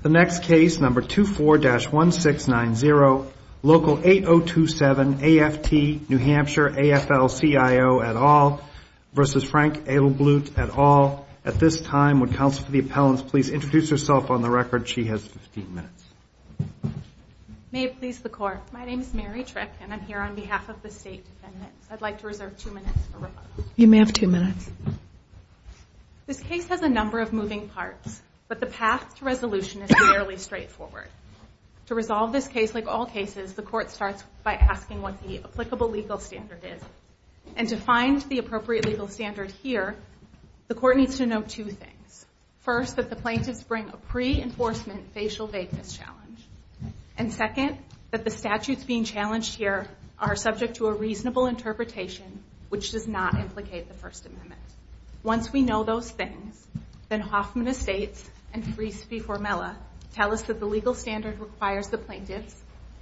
The next case, number 24-1690, local 8027, AFT-New Hampshire, AFL-CIO et al. v. Frank Edelblut et al. At this time, would counsel for the appellants please introduce herself on the record. She has 15 minutes. May it please the Court, my name is Mary Trick and I'm here on behalf of the State Defendants. I'd like to reserve two minutes for rebuttal. You may have two minutes. This case has a number of moving parts, but the path to resolution is fairly straightforward. To resolve this case, like all cases, the Court starts by asking what the applicable legal standard is. And to find the appropriate legal standard here, the Court needs to know two things. First, that the plaintiffs bring a pre-enforcement facial vagueness challenge. And second, that the statutes being challenged here are subject to a reasonable interpretation, which does not implicate the First Amendment. Once we know those things, then Hoffman Estates and Friese v. Formella tell us that the legal standard requires the plaintiffs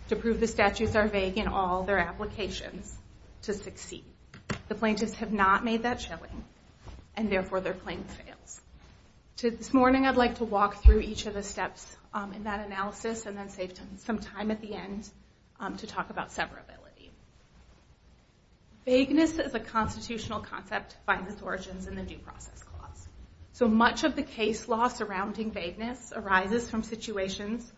to prove the statutes are vague in all their applications to succeed. The plaintiffs have not made that challenge, and therefore their claim fails. This morning, I'd like to walk through each of the steps in that analysis, and then save some time at the end to talk about severability. Vagueness is a constitutional concept to find its origins in the Due Process Clause. So much of the case law surrounding vagueness arises from situations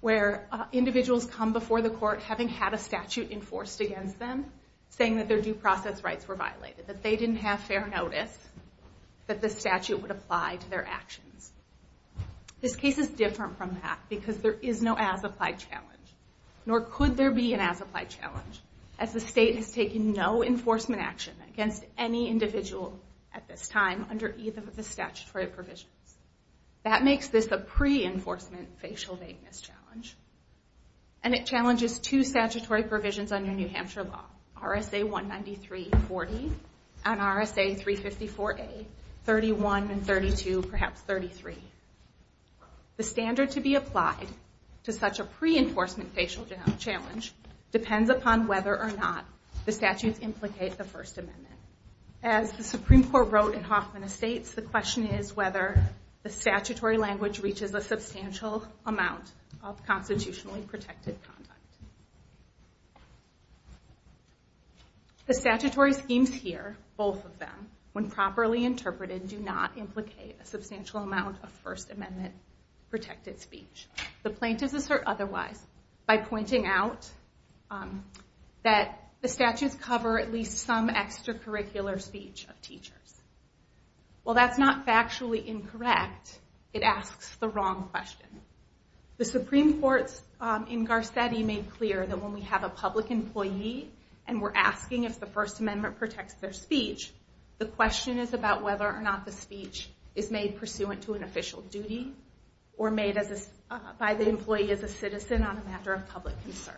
where individuals come before the Court having had a statute enforced against them, saying that their due process rights were violated, that they didn't have fair notice, that the statute would apply to their actions. This case is different from that, because there is no as-applied challenge, nor could there be an as-applied challenge, as the state has taken no enforcement action against any individual at this time under either of the statutory provisions. That makes this a pre-enforcement facial vagueness challenge, and it challenges two statutory provisions under New Hampshire law, RSA 193.40 and RSA 354a, 31 and 32, perhaps 33. The standard to be applied to such a pre-enforcement facial challenge depends upon whether or not the statutes implicate the First Amendment. As the Supreme Court wrote in Hoffman Estates, the question is whether the statutory language reaches a substantial amount of constitutionally protected conduct. The statutory schemes here, both of them, when properly interpreted, do not implicate a substantial amount of First Amendment protected speech. The plaintiffs assert otherwise by pointing out that the statutes cover at least some extracurricular speech of teachers. While that's not factually incorrect, it asks the wrong question. The Supreme Court in Garcetti made clear that when we have a public employee and we're asking if the First Amendment protects their speech, the question is about whether or not the speech is made pursuant to an official duty or made by the employee as a citizen on a matter of public concern.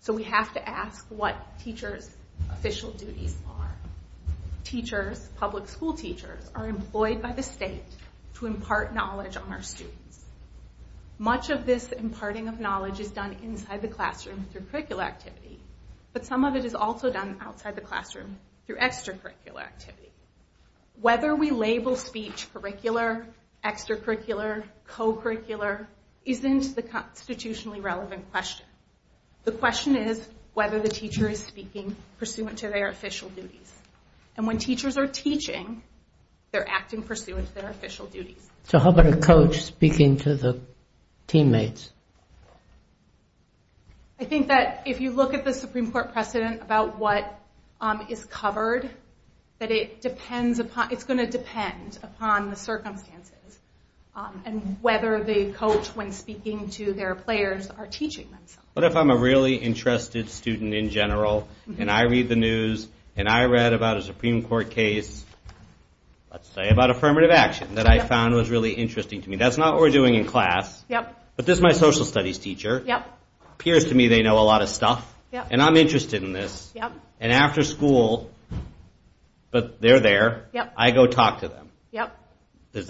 So we have to ask what teachers' official duties are. Teachers, public school teachers, are employed by the state to impart knowledge on our students. Much of this imparting of knowledge is done inside the classroom through curricular activity, but some of it is also done outside the classroom through extracurricular activity. Whether we label speech curricular, extracurricular, co-curricular, isn't the constitutionally relevant question. The question is whether the teacher is speaking pursuant to their official duties. And when teachers are teaching, they're acting pursuant to their official duties. So how about a coach speaking to the teammates? I think that if you look at the Supreme Court precedent about what is covered, that it's going to depend upon the circumstances and whether the coach, when speaking to their players, are teaching themselves. What if I'm a really interested student in general and I read the news and I read about a Supreme Court case, let's say about affirmative action, that I found was really interesting to me? That's not what we're doing in class, but this is my social studies teacher. It appears to me they know a lot of stuff, and I'm interested in this. And after school, but they're there, I go talk to them. Is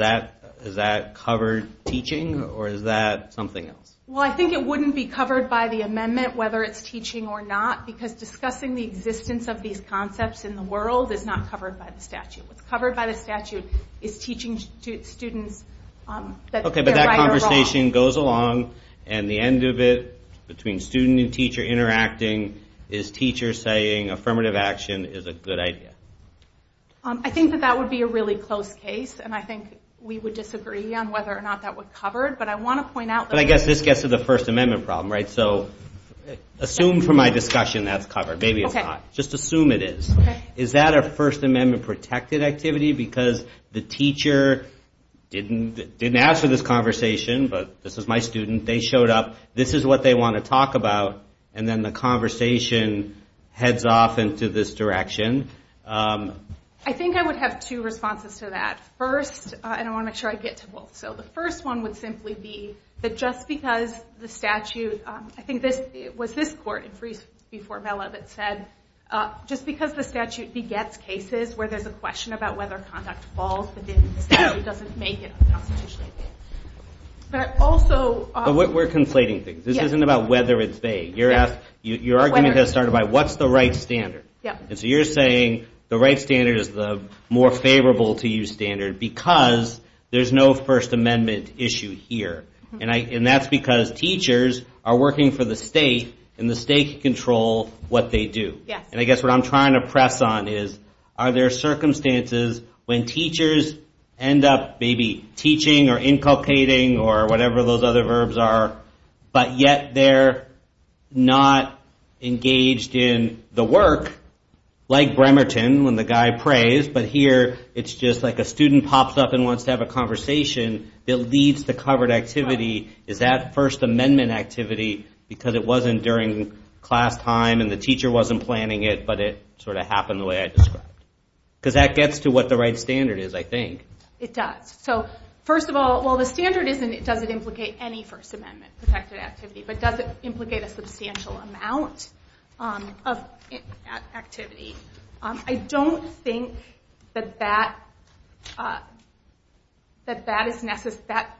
that covered teaching, or is that something else? Well, I think it wouldn't be covered by the amendment, whether it's teaching or not, because discussing the existence of these concepts in the world is not covered by the statute. What's covered by the statute is teaching students that they're right or wrong. Okay, but that conversation goes along, and the end of it, between student and teacher interacting, is teachers saying affirmative action is a good idea? I think that that would be a really close case, and I think we would disagree on whether or not that would cover it. But I guess this gets to the First Amendment problem, right? Assume for my discussion that's covered. Maybe it's not. Just assume it is. Is that a First Amendment-protected activity, because the teacher didn't ask for this conversation, but this is my student, they showed up, this is what they want to talk about, and then the conversation heads off into this direction? I think I would have two responses to that. First, and I want to make sure I get to both, so the first one would simply be that just because the statute... I think it was this court in Friese v. Formella that said just because the statute begets cases where there's a question about whether conduct falls within the statute doesn't make it a constitutional amendment. But also... We're conflating things. This isn't about whether it's vague. Your argument has started by what's the right standard? So you're saying the right standard is the more favorable-to-use standard because there's no First Amendment issue here. And that's because teachers are working for the state, and the state can control what they do. And I guess what I'm trying to press on is, are there circumstances when teachers end up maybe teaching or inculcating or whatever those other verbs are, but yet they're not engaged in the work, like Bremerton when the guy prays, but here it's just like a student pops up and wants to have a conversation that leads to covered activity. Is that First Amendment activity because it wasn't during class time and the teacher wasn't planning it, but it sort of happened the way I described? Because that gets to what the right standard is, I think. It does. So first of all, while the standard doesn't implicate any First Amendment-protected activity, but does it implicate a substantial amount of activity? I don't think that that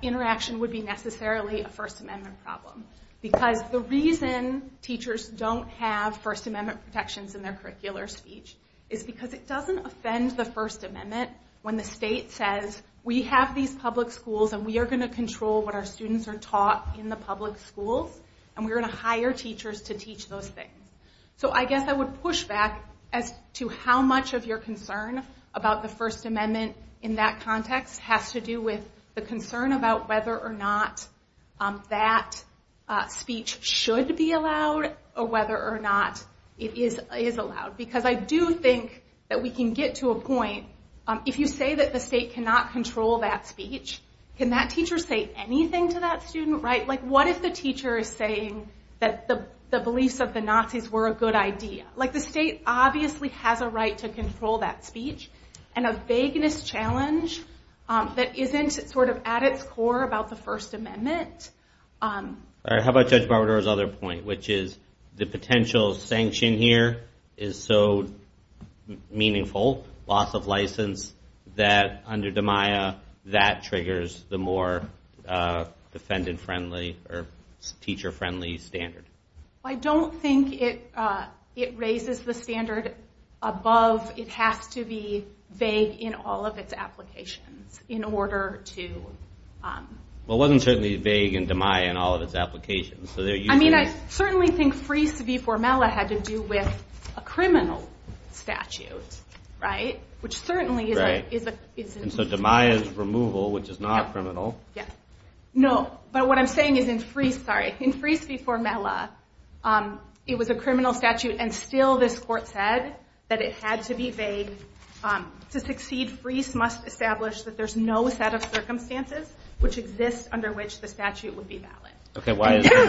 interaction would be necessarily a First Amendment problem. Because the reason teachers don't have First Amendment protections in their curricular speech is because it doesn't. offend the First Amendment when the state says, we have these public schools and we are going to control what our students are taught in the public schools, and we're going to hire teachers to teach those things. So I guess I would push back as to how much of your concern about the First Amendment in that context has to do with the concern about whether or not that speech should be allowed, or whether or not it is allowed. Because I do think that we can get to a point if you say that the state cannot control that speech, can that teacher say anything to that student? What if the teacher is saying that the beliefs of the Nazis were a good idea? The state obviously has a right to control that speech, and a vagueness challenge that isn't at its core about the First Amendment. How about Judge Barbador's other point, which is the potential sanction here is so meaningful, loss of license, that under DMIA that triggers the more defendant-friendly or teacher-friendly standard. I don't think it raises the standard above. It has to be vague in all of its applications in order to... Well, it wasn't certainly vague in DMIA and all of its applications. I mean, I certainly think FRIES v. Formella had to do with a criminal statute, right? Which certainly is... And so DMIA's removal, which is not criminal... No, but what I'm saying is in FRIES v. Formella, it was a criminal statute, and still this court said that it had to be vague. To succeed, FRIES must establish that there's no set of circumstances which exist under which the statute would be valid.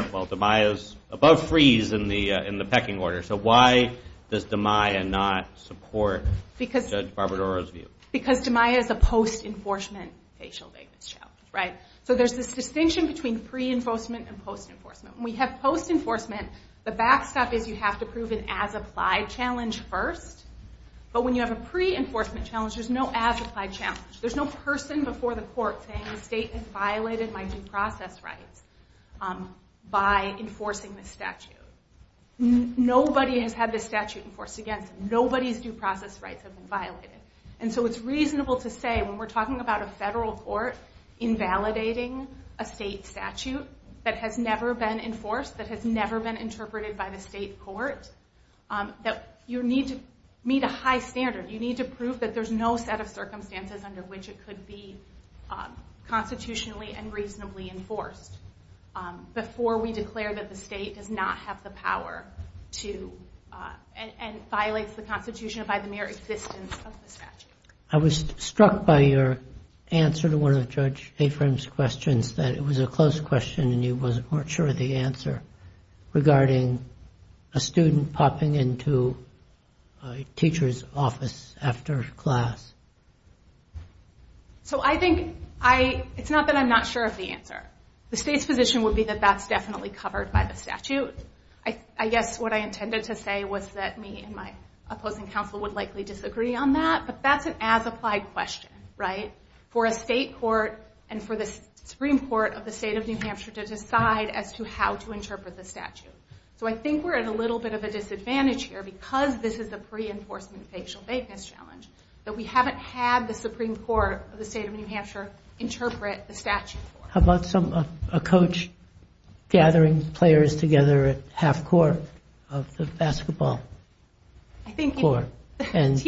Well, DMIA's above FRIES in the pecking order, so why does DMIA not support Judge Barbador's view? Because DMIA is a post-enforcement facial vagueness challenge, right? So there's this distinction between pre-enforcement and post-enforcement. When we have post-enforcement, the backstop is you have to prove an as-applied challenge first. But when you have a pre-enforcement challenge, there's no as-applied challenge. There's no person before the court saying the state has violated my due process rights by enforcing this statute. Nobody has had this statute enforced against them. Nobody's due process rights have been violated. And so it's reasonable to say when we're talking about a federal court invalidating a state statute that has never been enforced, that has never been interpreted by the state court, that you need to meet a high standard. You need to prove that there's no set of circumstances under which it could be constitutionally and reasonably enforced before we declare that the state does not have the power to... and violates the Constitution by the mere existence of the statute. I was struck by your answer to one of Judge Afram's questions, that it was a close question and you weren't sure of the answer, regarding a student popping into a teacher's office after class. So I think, it's not that I'm not sure of the answer. The state's position would be that that's definitely covered by the statute. I guess what I intended to say was that me and my opposing counsel would likely disagree on that. But that's an as-applied question, right? For a state court and for the Supreme Court of the state of New Hampshire to decide as to how to interpret the statute. So I think we're at a little bit of a disadvantage here because this is a pre-enforcement facial vagueness challenge that we haven't had the Supreme Court of the state of New Hampshire interpret the statute for. How about a coach gathering players together at half-court of the basketball court? Is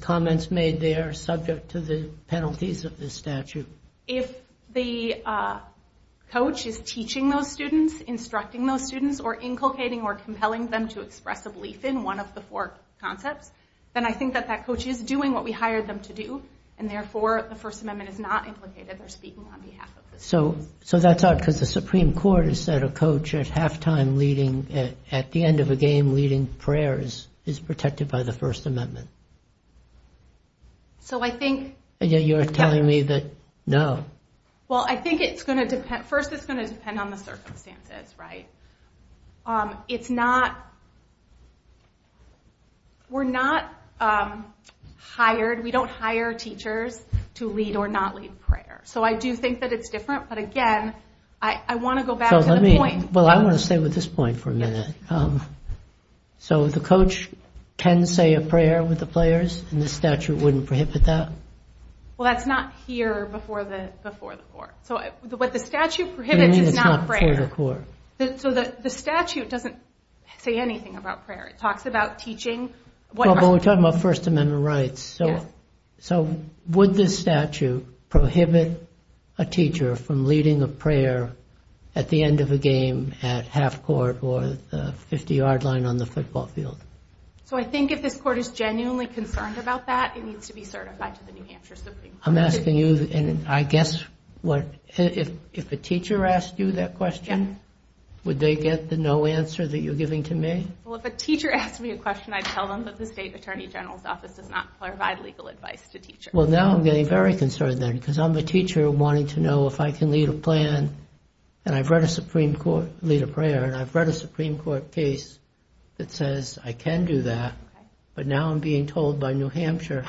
comments made there subject to the penalties of the statute? If the coach is teaching those students, instructing those students, or inculcating or compelling them to express a belief in one of the four concepts, then I think that that coach is doing what we hired them to do and therefore the First Amendment is not implicated. They're speaking on behalf of the students. So that's odd because the Supreme Court has said a coach at the end of a game leading prayers is protected by the First Amendment. So I think... Well, I think first it's going to depend on the circumstances, right? It's not... We don't hire teachers to lead or not lead prayer. So I do think that it's different, but again, I want to go back to the point... Well, I want to stay with this point for a minute. So the coach can say a prayer with the players and the statute wouldn't prohibit that? Well, that's not here before the court. What the statute prohibits is not prayer. So the statute doesn't say anything about prayer. It talks about teaching... Well, but we're talking about First Amendment rights. So would this statute prohibit a teacher from leading a prayer at the end of a game at half court or the 50-yard line on the football field? So I think if this court is genuinely concerned about that, it needs to be certified to the New Hampshire Supreme Court. I'm asking you, and I guess if a teacher asked you that question, would they get the no answer that you're giving to me? Well, if a teacher asked me a question, I'd tell them that the state attorney general's office does not provide legal advice to teachers. Well, now I'm getting very concerned then, because I'm a teacher wanting to know if I can lead a plan, and I've read a Supreme Court case that says I can do that, but now I'm being told by New Hampshire,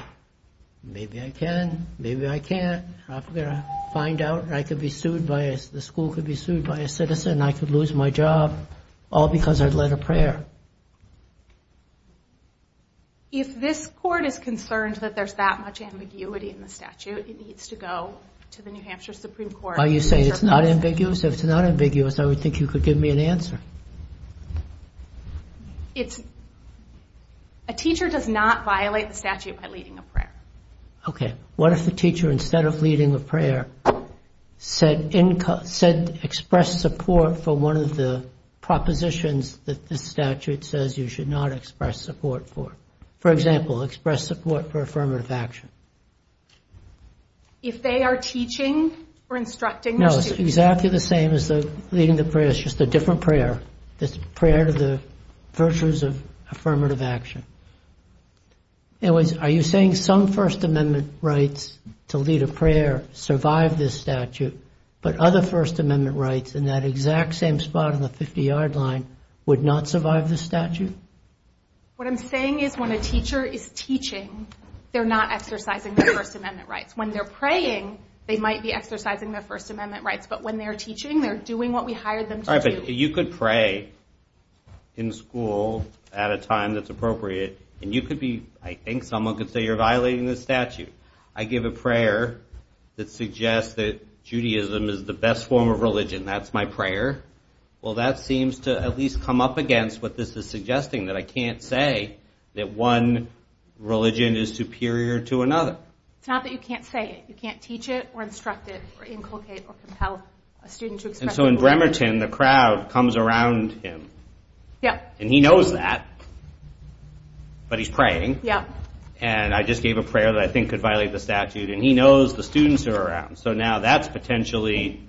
maybe I can, maybe I can't. I'm going to find out, and I could be sued by... The school could be sued by a citizen, and I could lose my job, all because I'd led a prayer. If this court is concerned that there's that much ambiguity in the statute, it needs to go to the New Hampshire Supreme Court. Are you saying it's not ambiguous? If it's not ambiguous, I would think you could give me an answer. A teacher does not violate the statute by leading a prayer. Okay, what if the teacher, instead of leading a prayer, expressed support for one of the propositions that the statute says you should not express support for? For example, express support for affirmative action. If they are teaching or instructing... No, it's exactly the same as leading the prayer, it's just a different prayer. It's a prayer to the virtues of affirmative action. Are you saying some First Amendment rights to lead a prayer survive this statute, but other First Amendment rights in that exact same spot on the 50-yard line would not survive the statute? What I'm saying is when a teacher is teaching, they're not exercising their First Amendment rights. When they're praying, they might be exercising their First Amendment rights, but when they're teaching, they're doing what we hired them to do. You could pray in school at a time that's appropriate, and I think someone could say you're violating the statute. I give a prayer that suggests that Judaism is the best form of religion, that's my prayer. Well, that seems to at least come up against what this is suggesting, that I can't say that one religion is superior to another. It's not that you can't say it, you can't teach it or instruct it or inculcate or compel a student to express... And so in Bremerton, the crowd comes around him, and he knows that, but he's praying, and I just gave a prayer that I think could violate the statute, and he knows the students are around, so now that's potentially,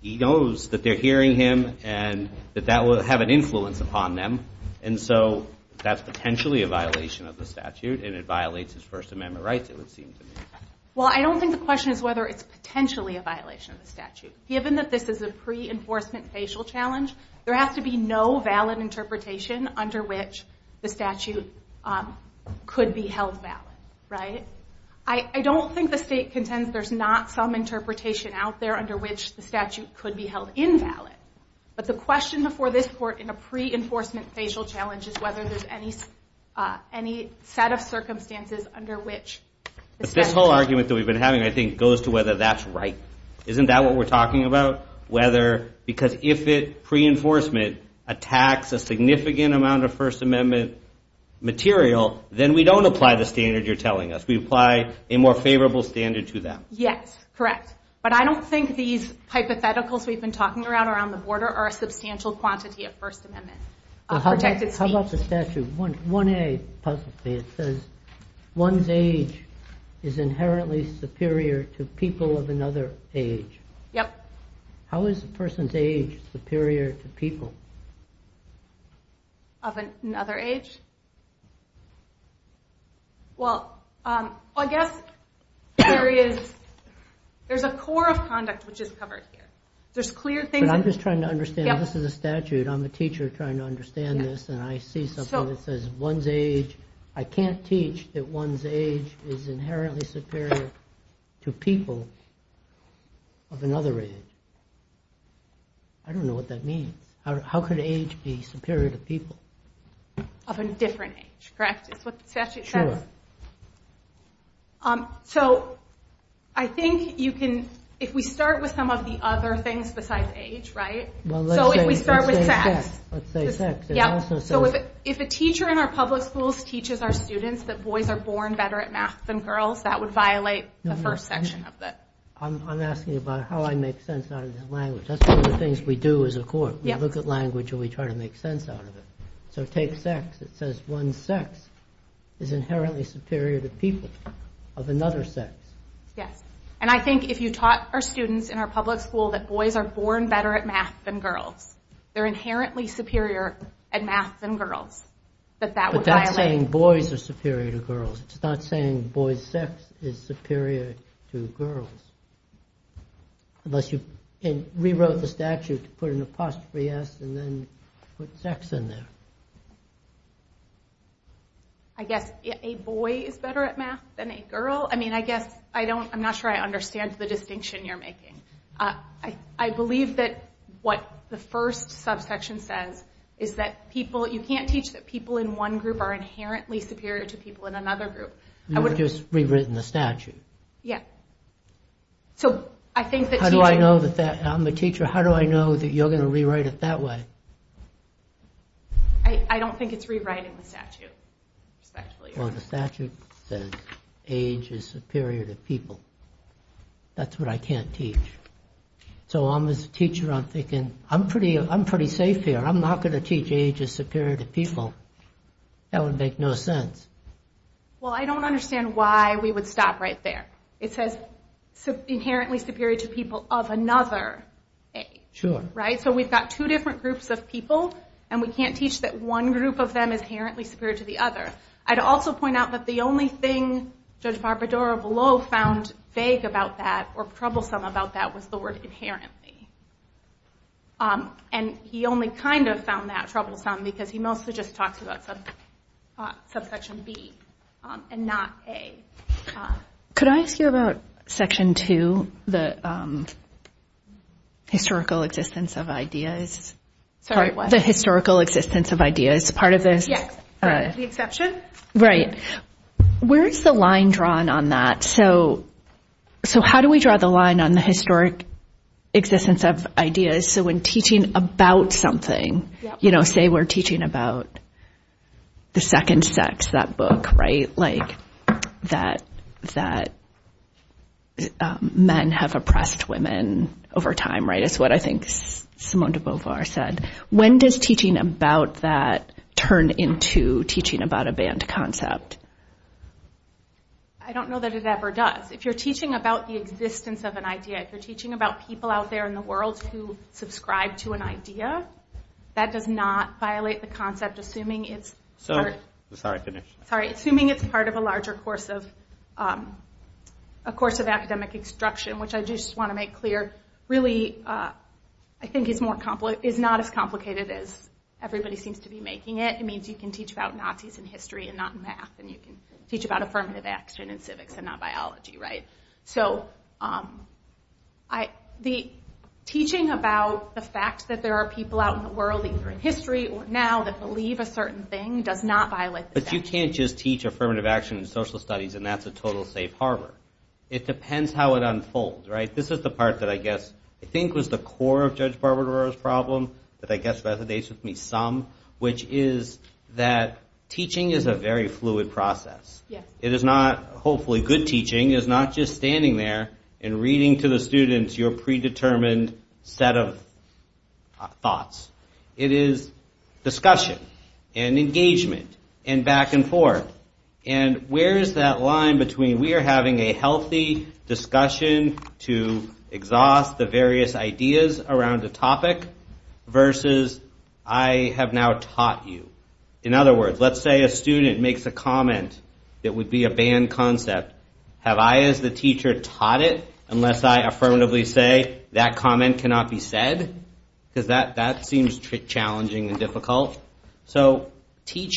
he knows that they're hearing him and that that will have an influence upon them, and so that's potentially a violation of the statute, and it violates his First Amendment rights, it would seem to me. Well, I don't think the question is whether it's potentially a violation of the statute. Given that this is a pre-enforcement facial challenge, there has to be no valid interpretation under which the statute could be held valid, right? I don't think the state contends there's not some interpretation out there under which the statute could be held invalid, but the question before this court in a pre-enforcement facial challenge is whether there's any set of circumstances under which the statute... But this whole argument that we've been having, I think, goes to whether that's right. Isn't that what we're talking about? Because if pre-enforcement attacks a significant amount of First Amendment material, then we don't apply the standard you're telling us. We apply a more favorable standard to them. Yes, correct. But I don't think these hypotheticals we've been talking around around the border are a substantial quantity of First Amendment protected speech. One's age is inherently superior to people of another age. How is a person's age superior to people? Of another age? Well, I guess there's a core of conduct which is covered here. I'm just trying to understand. This is a statute. I'm a teacher trying to understand this, and I see something that says, I can't teach that one's age is inherently superior to people of another age. I don't know what that means. How could age be superior to people? Of a different age, correct? I think if we start with some of the other things besides age, right? Let's say sex. If a teacher in our public schools teaches our students that boys are born better at math than girls, that would violate the first section of it. I'm asking about how I make sense out of this language. That's one of the things we do as a court. We look at language and we try to make sense out of it. So take sex. It says one's sex is inherently superior to people of another sex. Yes. And I think if you taught our students in our public school that boys are born better at math than girls, they're inherently superior at math than girls, that that would violate. It's not saying boys are superior to girls. It's not saying boys' sex is superior to girls. Unless you rewrote the statute to put an apostrophe S and then put sex in there. I guess a boy is better at math than a girl? I'm not sure I understand the distinction you're making. I believe that what the first subsection says is that you can't teach that people in one group are inherently superior to people in another group. You've just rewritten the statute. I'm a teacher. How do I know that you're going to rewrite it that way? I don't think it's rewriting the statute. The statute says age is superior to people. That's what I can't teach. I'm pretty safe here. I'm not going to teach age is superior to people. That would make no sense. It says inherently superior to people of another age. We've got two different groups of people, and we can't teach that one group of them is inherently superior to the other. I'd also point out that the only thing Judge Barbadero-Vallot found vague about that or troublesome about that was the word inherently. He only kind of found that troublesome because he mostly just talks about subsection B and not A. Could I ask you about section 2, the historical example? The historical existence of ideas. Where is the line drawn on that? How do we draw the line on the historic existence of ideas? When teaching about something, say we're teaching about the second sex, that book, that men have oppressed women over time. When does teaching about that turn into teaching about a banned concept? I don't know that it ever does. If you're teaching about the existence of an idea, if you're teaching about people out there in the world who subscribe to an idea, that does not violate the concept, assuming it's part of a larger course of academic instruction, which I just want to make clear is not as complicated as everybody seems to be making it. It means you can teach about Nazis in history and not in math, and you can teach about affirmative action in civics and not biology. Teaching about the fact that there are people out in the world, either in history or now, that believe a certain thing does not violate the concept. You can't just teach affirmative action in social studies and that's a total safe harbor. It depends how it unfolds. Teaching is a very fluid process. Hopefully good teaching is not just standing there and reading to the students your predetermined set of thoughts. It is discussion and engagement and back and forth. Where is that line between we are having a healthy discussion to exhaust the various ideas around the topic versus I have now taught you? In other words, let's say a student makes a comment that would be a banned concept. Have I as the teacher taught it unless I affirmatively say that comment cannot be said? That seems challenging and difficult. You can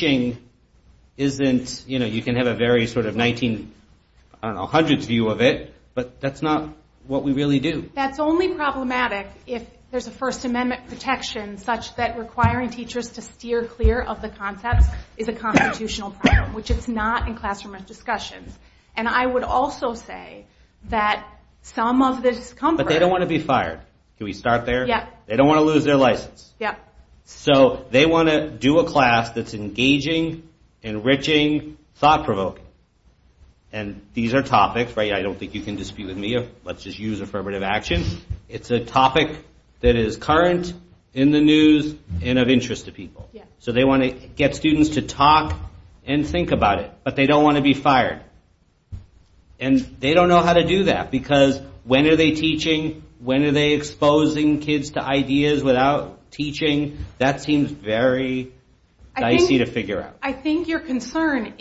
have a very 1900s view of it, but that's not what we really do. That's only problematic if there's a First Amendment protection such that requiring teachers to steer clear of the concept is a constitutional problem, which it's not in classroom discussions. I would also say that some of the discomfort... They don't want to be fired. They want to do a class that's engaging, enriching, thought-provoking. These are topics I don't think you can dispute with me. Let's just use affirmative action. It's a topic that is current in the news and of interest to people. They want to get students to talk and think about it, but they don't want to be fired. They don't know how to do that because when are they teaching? When are they exposing kids to ideas without teaching? That seems very dicey to figure out. I think your concern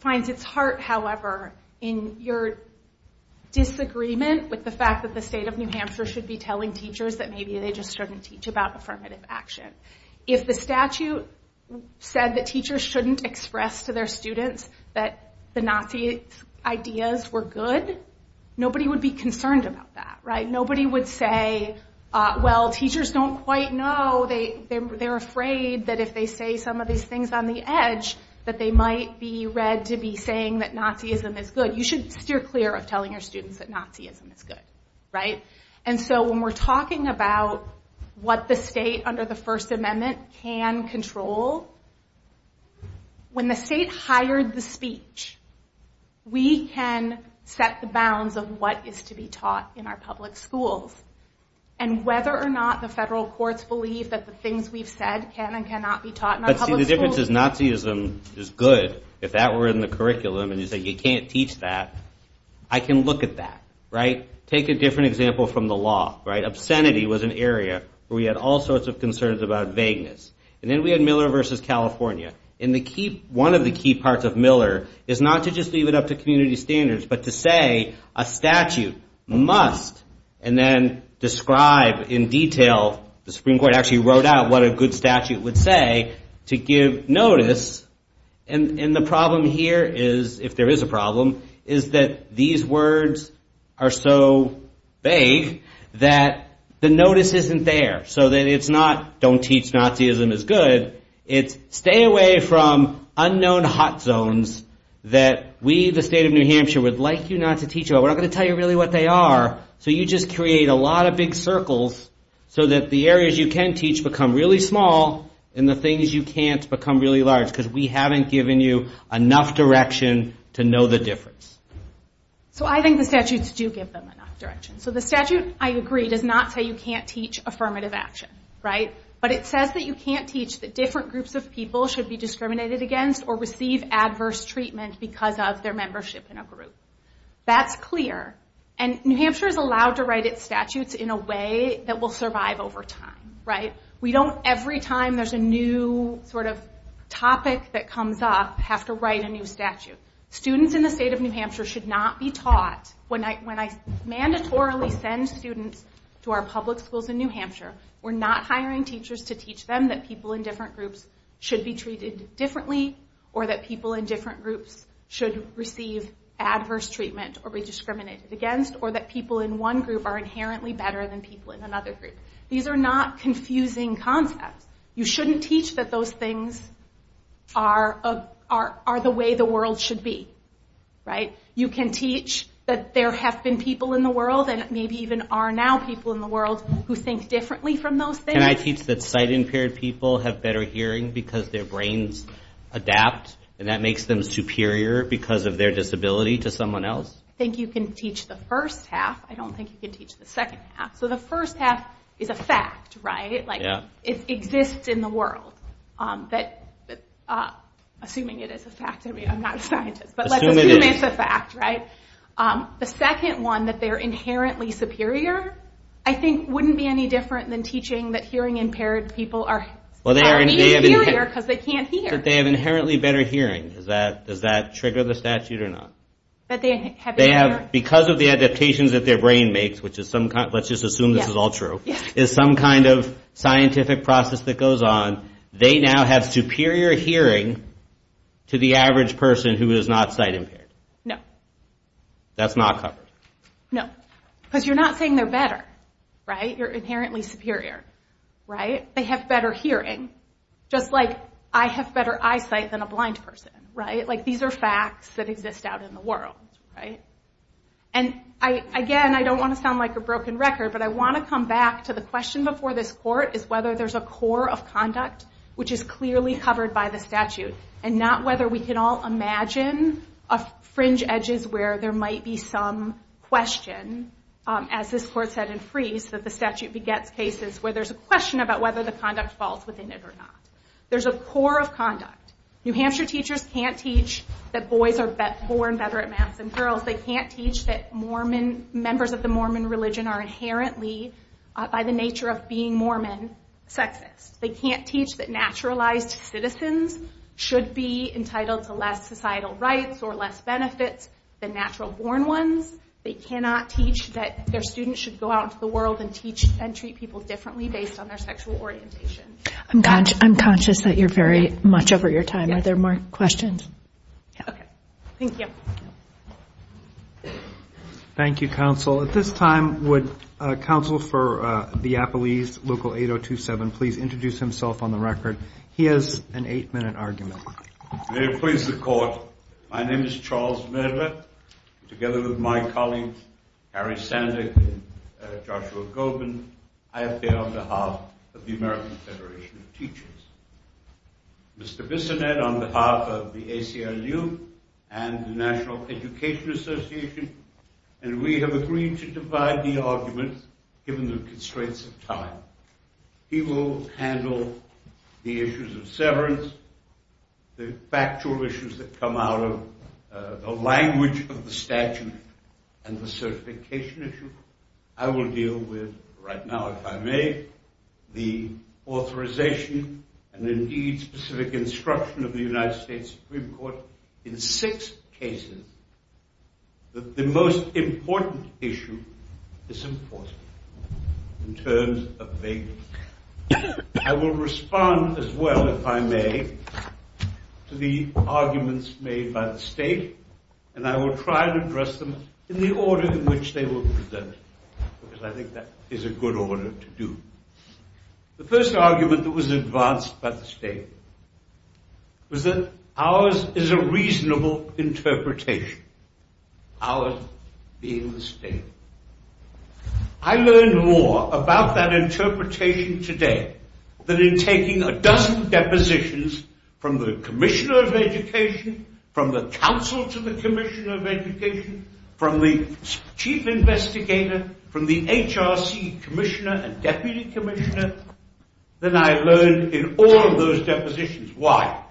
finds its heart, however, in your disagreement with the fact that the state of New Hampshire should be telling teachers that maybe they just shouldn't teach about affirmative action. If the statute said that teachers shouldn't express to their students that the Nazi ideas were good, nobody would be concerned about that. Nobody would say, well, teachers don't quite know. They're afraid that if they say some of these things on the edge that they might be read to be saying that Nazism is good. You should steer clear of telling your students that Nazism is good. When we're talking about what the state under the First Amendment can control, when the state hired the speech, we can set the bounds of what is to be taught in our public schools. Whether or not the federal courts believe that the things we've said can and cannot be taught in our public schools... I can look at that. Take a different example from the law. Obscenity was an area where we had all sorts of concerns about vagueness. And then we had Miller v. California. One of the key parts of Miller is not to just leave it up to community standards, but to say a statute must, and then describe in detail, the Supreme Court actually wrote out what a good statute would say, to give notice, and the problem here is, if there is a problem, is that these words are so vague that the notice isn't there. So it's not, don't teach Nazism is good. It's stay away from unknown hot zones that we, the state of New Hampshire, would like you not to teach about. We're not going to tell you really what they are. So you just create a lot of big circles so that the areas you can teach become really small, and the things you can't become really large, because we haven't given you enough direction to know the difference. So I think the statutes do give them enough direction. So the statute, I agree, does not say you can't teach affirmative action, right? But it says that you can't teach that different groups of people should be discriminated against or receive adverse treatment because of their membership in a group. That's clear, and New Hampshire is allowed to write its statutes in a way that will survive over time, right? We don't, every time there's a new sort of topic that comes up, have to write a new statute. Students in the state of New Hampshire should not be taught, when I mandatorily send students to our public schools in New Hampshire, we're not hiring teachers to teach them that people in different groups should be treated differently, or that people in different groups should receive adverse treatment or be discriminated against, or that people in one group are inherently better than people in another group. These are not confusing concepts. You shouldn't teach that those things are the way the world should be, right? You can teach that there have been people in the world, and maybe even are now people in the world, who think differently from those things. Can I teach that sight-impaired people have better hearing because their brains adapt, and that makes them superior because of their disability to someone else? I think you can teach the first half, I don't think you can teach the second half. So the first half is a fact, right? It exists in the world. Assuming it is a fact, I'm not a scientist, but let's assume it's a fact, right? The second one, that they're inherently superior, I think wouldn't be any different than teaching that hearing-impaired people are inherently superior because they can't hear. They have inherently better hearing. Does that trigger the statute or not? Because of the adaptations that their brain makes, let's just assume this is all true, is some kind of scientific process that goes on, they now have superior hearing to the average person who is not sight-impaired. That's not covered. No, because you're not saying they're better, right? You're inherently superior. They have better hearing, just like I have better eyesight than a blind person. These are facts that exist out in the world. Again, I don't want to sound like a broken record, but I want to come back to the question before this court, is whether there's a core of conduct which is clearly covered by the statute, and not whether we can all imagine fringe edges where there might be some question, as this court said in Freeze, that the statute begets cases where there's a question about whether the conduct falls within it or not. There's a core of conduct. New Hampshire teachers can't teach that boys are born better at math than girls. They can't teach that members of the Mormon religion are inherently, by the nature of being Mormon, sexist. They can't teach that naturalized citizens should be entitled to less societal rights or less benefits than natural born ones. They cannot teach that their students should go out into the world and teach and treat people differently based on their sexual orientation. I'm conscious that you're very much over your time. Are there more questions? Okay. Thank you. Thank you, counsel. At this time, would counsel for the Appelees, local 8027, please introduce himself on the record. He has an eight-minute argument. May it please the court. My name is Charles Medler. Together with my colleagues, Harry Sandick and Joshua Goldman, I appear on behalf of the American Federation of Teachers. Mr. Bissonette, on behalf of the ACLU and the National Education Association, and we have agreed to divide the argument given the constraints of time. He will handle the issues of severance, the factual issues that come out of the language of the statute and the certification issue. I will deal with, right now, if I may, the authorization and, indeed, specific instruction of the United States Supreme Court in six cases that the most important issue is enforced in terms of vagueness. I will respond, as well, if I may, to the arguments made by the state, and I will try to address them in the order in which they were presented, because I think that is a good order to do. The first argument that was advanced by the state was that ours is a reasonable interpretation, ours being the state. I learned more about that interpretation today than in taking a dozen depositions from the Commissioner of Education, from the Council to the Commissioner of Education, from the Chief Investigator, from the HRC Commissioner and Deputy Commissioner than I learned in all of those depositions. Why?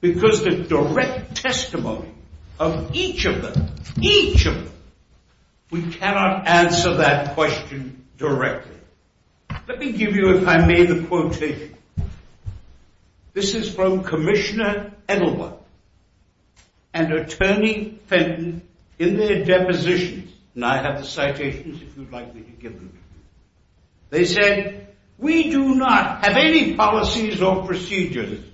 Because the direct testimony of each of them, each of them, we cannot answer that question directly. Let me give you, if I may, the quotation. This is from Commissioner Edelman and Attorney Fenton in their depositions, and I have the citations, if you would like me to give them to you. They said, we do not have any policies or procedures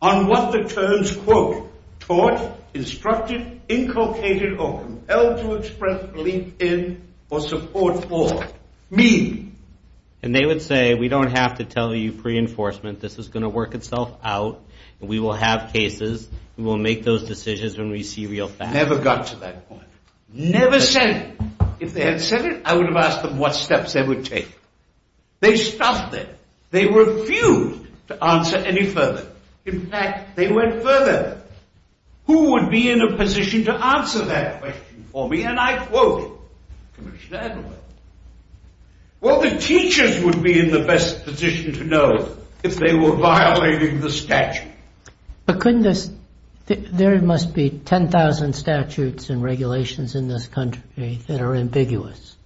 on what the terms quote, taught, instructed, inculcated, or compelled to express belief in or support for mean. And they would say, we don't have to tell you pre-enforcement. This is going to work itself out, and we will have cases. We will make those decisions when we see real facts. Never got to that point. Never said it. If they had said it, I would have asked them what steps they would take. They stopped there. They refused to answer any further. In fact, they went further. Who would be in a position to answer that question for me? And I quote Commissioner Edelman, well, the teachers would be in the best position to know if they were violating the statute. There must be 10,000 statutes and regulations in this country that are ambiguous.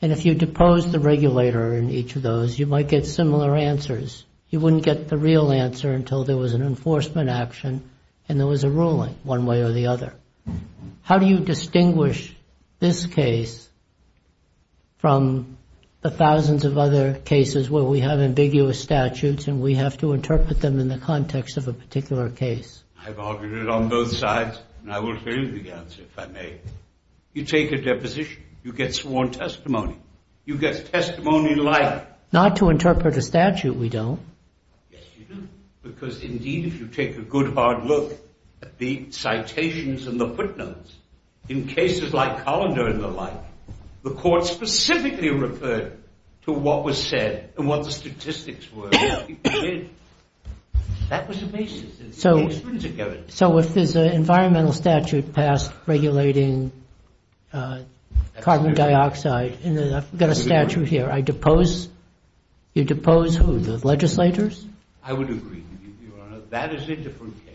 And if you depose the regulator in each of those, you might get similar answers. You wouldn't get the real answer until there was an enforcement action and there was a ruling one way or the other. How do you distinguish this case from the thousands of other cases where we have ambiguous statutes and we have to interpret them in the context of a particular case? I've argued it on both sides, and I will tell you the answer, if I may. You take a deposition. You get sworn testimony. You get testimony like... Not to interpret the statute, we don't. Yes, you do. Because indeed, if you take a good hard look at the citations and the footnotes, in cases like Colander and the like, the court specifically referred to what was said and what the statistics were. That was the basis. So if there's an environmental statute passed regulating carbon dioxide, and I've got a statute here, I depose... You depose who? The legislators? I would agree, Your Honor. That is a different case.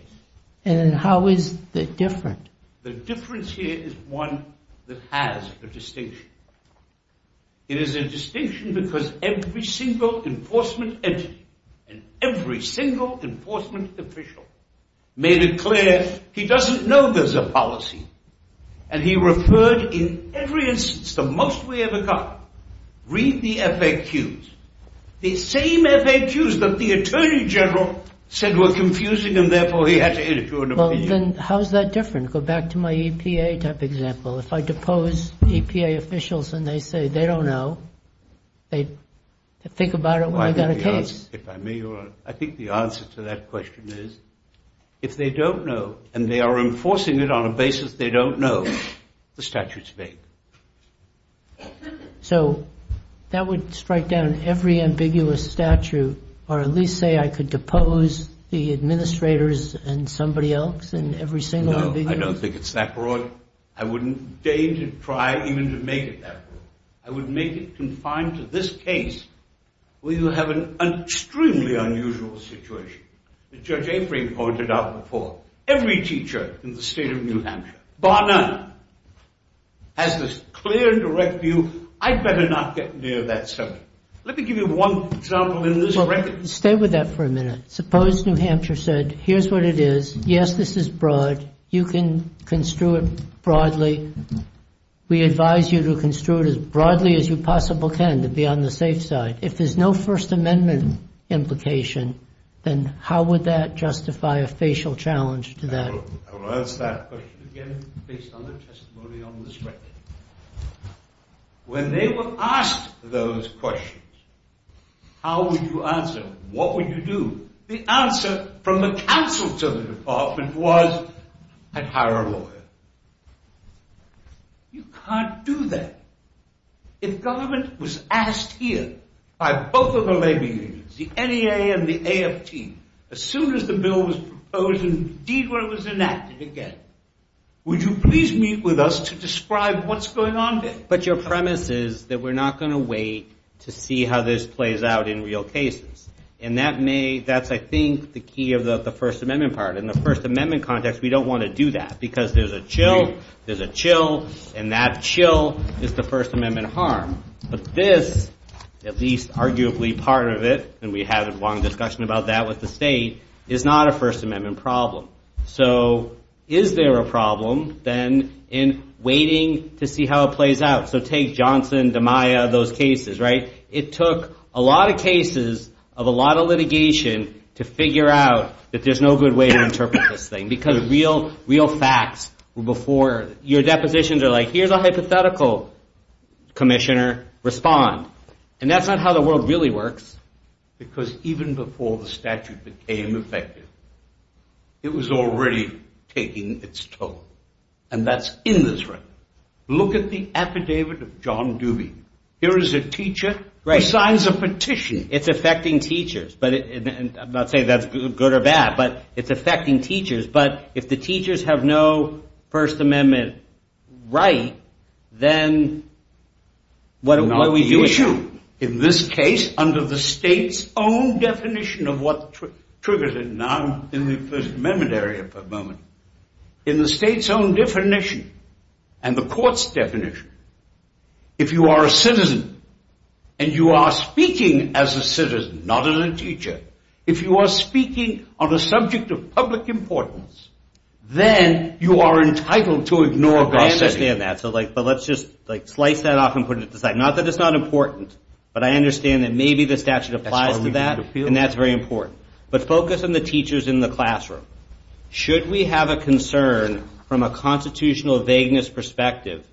And how is it different? The difference here is one that has a distinction. It is a distinction because every single enforcement entity and every single enforcement official made it clear he doesn't know there's a policy. And he referred in every instance, the most we ever got, read the FAQs. The same FAQs that the Attorney General said were confusing and therefore he had to enter into an opinion. Well, then how is that different? Go back to my EPA type example. If I depose EPA officials and they say they don't know, they think about it when they've got a case. I think the answer to that question is if they don't know and they are enforcing it on a basis they don't know, the statute's vague. So that would strike down every ambiguous statute or at least say I could depose the administrators and somebody else in every single ambiguity? No, I don't think it's that broad. I wouldn't make it confined to this case where you have an extremely unusual situation. As Judge Avery pointed out before, every teacher in the state of New Hampshire, bar none, has this clear and direct view, I'd better not get near that subject. Let me give you one example in this record. Stay with that for a minute. Suppose New Hampshire said here's what it is. Yes, this is broad. You can construe it broadly. We advise you to construe it as broadly as you possible can to be on the safe side. If there's no First Amendment implication, then how would that justify a facial challenge to that? I will answer that question again based on their testimony on the stretch. When they were asked those questions, how would you answer? What would you do? The answer from the counsel to the department was I'd hire a lawyer. You can't do that. If government was asked here by both of the labor unions, the NEA and the AFT, as soon as the bill was proposed and deed work was enacted again, would you please meet with us to describe what's going on here? But your premise is that we're not going to wait to see how this plays out in real cases. That's I think the key of the First Amendment part. In the First Amendment context, we don't want to do that because there's a chill and that chill is the First Amendment harm. This, at least arguably part of it, and we had a long discussion about that with the state, is not a First Amendment problem. Is there a problem then in waiting to see how it plays out? So take Johnson, DiMaio, those cases. It took a lot of cases of a lot of litigation to figure out that there's no good way to interpret this thing because real facts were before. Your depositions are like, here's a hypothetical commissioner. Respond. And that's not how the world really works. Because even before the statute became effective, it was already taking its toll. And that's in this record. Look at the affidavit of John Doobie. Here is a teacher who signs a petition. It's affecting teachers, but I'm not saying that's good or bad, but it's affecting teachers. But if the teachers have no First Amendment right, then what are we doing? The issue in this case, under the state's own definition of what triggers it, and I'm in the First Amendment area for a moment, in the state's own definition and the court's definition, if you are a citizen and you are speaking as a citizen, not as a teacher, if you are speaking on a subject of public importance, then you are entitled to ignore cross-setting. But I understand that maybe the statute applies to that, and that's very important. But focus on the teachers in the classroom. Should we have a concern from a constitutional vagueness perspective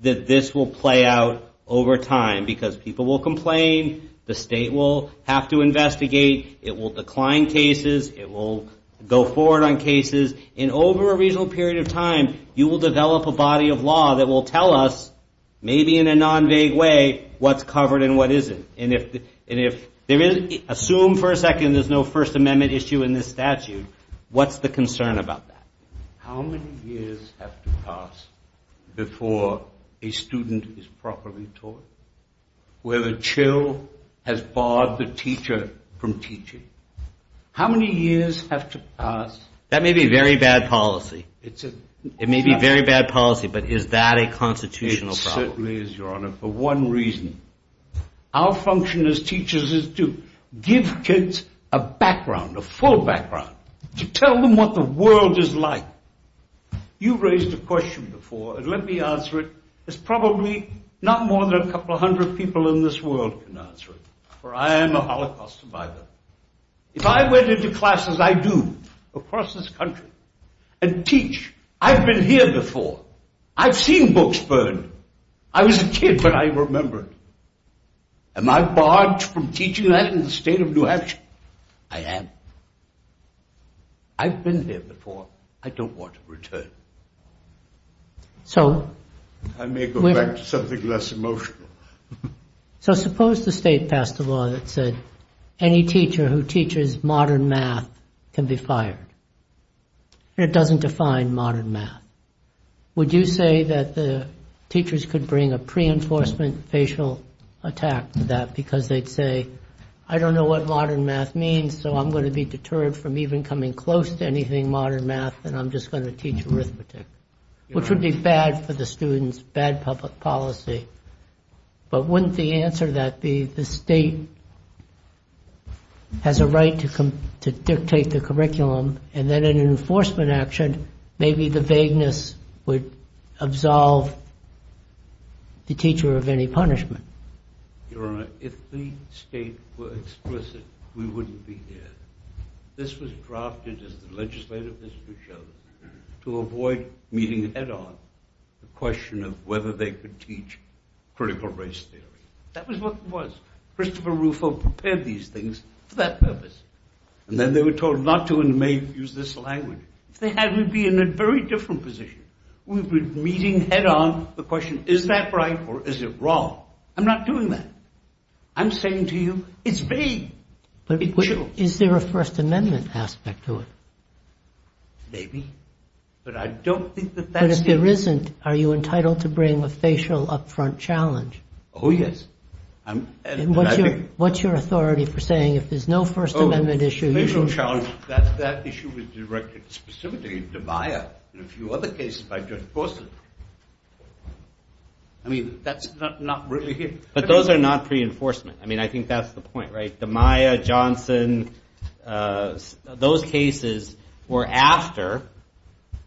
that this will play out over time because people will complain, the state will have to investigate, it will decline cases, it will go forward on cases. And over a reasonable period of time, you will develop a body of law that will tell us, maybe in a non-vague way, what's covered and what isn't. And if there is, assume for a second there's no First Amendment issue in this statute, what's the concern about that? How many years have to pass before a student is properly taught? Where the chill has barred the teacher from teaching. How many years have to pass? That may be a very bad policy, but is that a constitutional problem? It certainly is, Your Honor, for one reason. Our function as teachers is to give kids a background, a full background, to tell them what the world is like. You've raised a question before, and let me answer it. There's probably not more than a couple hundred people in this world can answer it, for I am a Holocaust survivor. If I went into classes, I do, across this country, and teach, I've been here before. I've seen books burned. I was a kid when I remember it. Am I barred from teaching that in the state of New Hampshire? I am. I've been there before. I don't want to return. I may go back to something less emotional. So suppose the state passed a law that said any teacher who teaches modern math can be fired. It doesn't define modern math. Would you say that the teachers could bring a pre-enforcement facial attack to that, because they'd say, I don't know what modern math means, so I'm going to be deterred from even coming close to anything modern math, and I'm just going to teach arithmetic, which would be bad for the students, bad public policy. But wouldn't the answer to that be the state has a right to dictate the curriculum, and then in an enforcement action, maybe the vagueness would absolve the teacher of any punishment? Your Honor, if the state were explicit, we wouldn't be here. This was drafted, as the legislative history shows, to avoid meeting head-on the question of whether they could teach critical race theory. That was what it was. Christopher Rufo prepared these things for that purpose. And then they were told not to use this language. If they had, we'd be in a very different position. We'd be meeting head-on the question, is that right or is it wrong? I'm not doing that. I'm saying to you, it's vague. Is there a First Amendment aspect to it? Maybe, but I don't think that that's it. But if there isn't, are you entitled to bring a facial upfront challenge? Oh, yes. And what's your authority for saying if there's no First Amendment issue... That issue was directed specifically to Maya and a few other cases by Judge Gorsuch. But those are not pre-enforcement. I mean, I think that's the point, right? The Maya, Johnson, those cases were after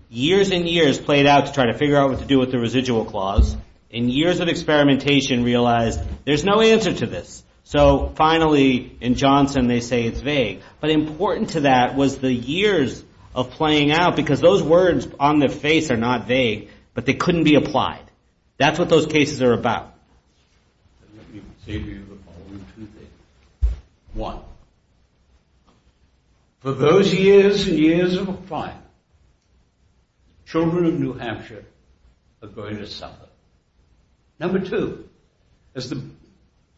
years and years played out to try to figure out what to do with the residual clause. And years of experimentation realized there's no answer to this. So finally, in Johnson, they say it's vague. But important to that was the years of playing out because those words on their face are not vague, but they couldn't be applied. That's what those cases are about. Let me say to you the following two things. One, for those years and years of applying, children of New Hampshire are going to suffer. Number two, as the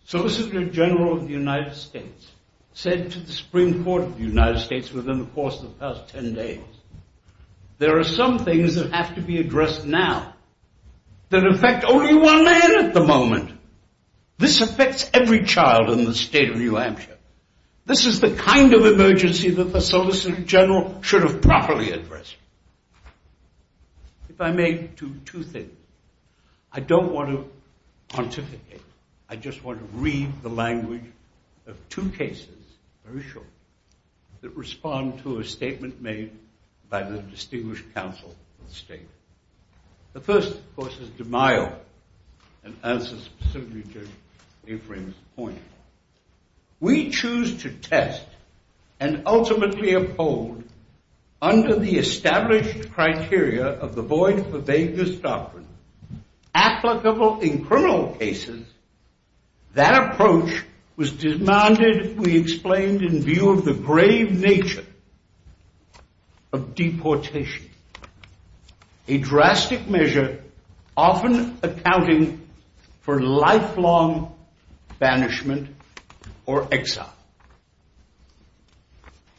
Solicitor General of the United States said to the Supreme Court of the United States within the course of the past ten days, there are some things that have to be addressed now that affect only one man at the moment. This affects every child in the state of New Hampshire. This is the kind of emergency that the Solicitor General should have properly addressed. If I may, two things. I don't want to pontificate. I just want to read the language of two cases, very short, that respond to a statement made by the distinguished counsel of the state. The first, of course, is DeMaio and answers specifically to Ephraim's point. We choose to test and ultimately uphold under the established criteria of the void for vagueness doctrine applicable in criminal cases. That approach was demanded, we explained, in view of the grave nature of deportation, a drastic measure often accounting for lifelong banishment or exile.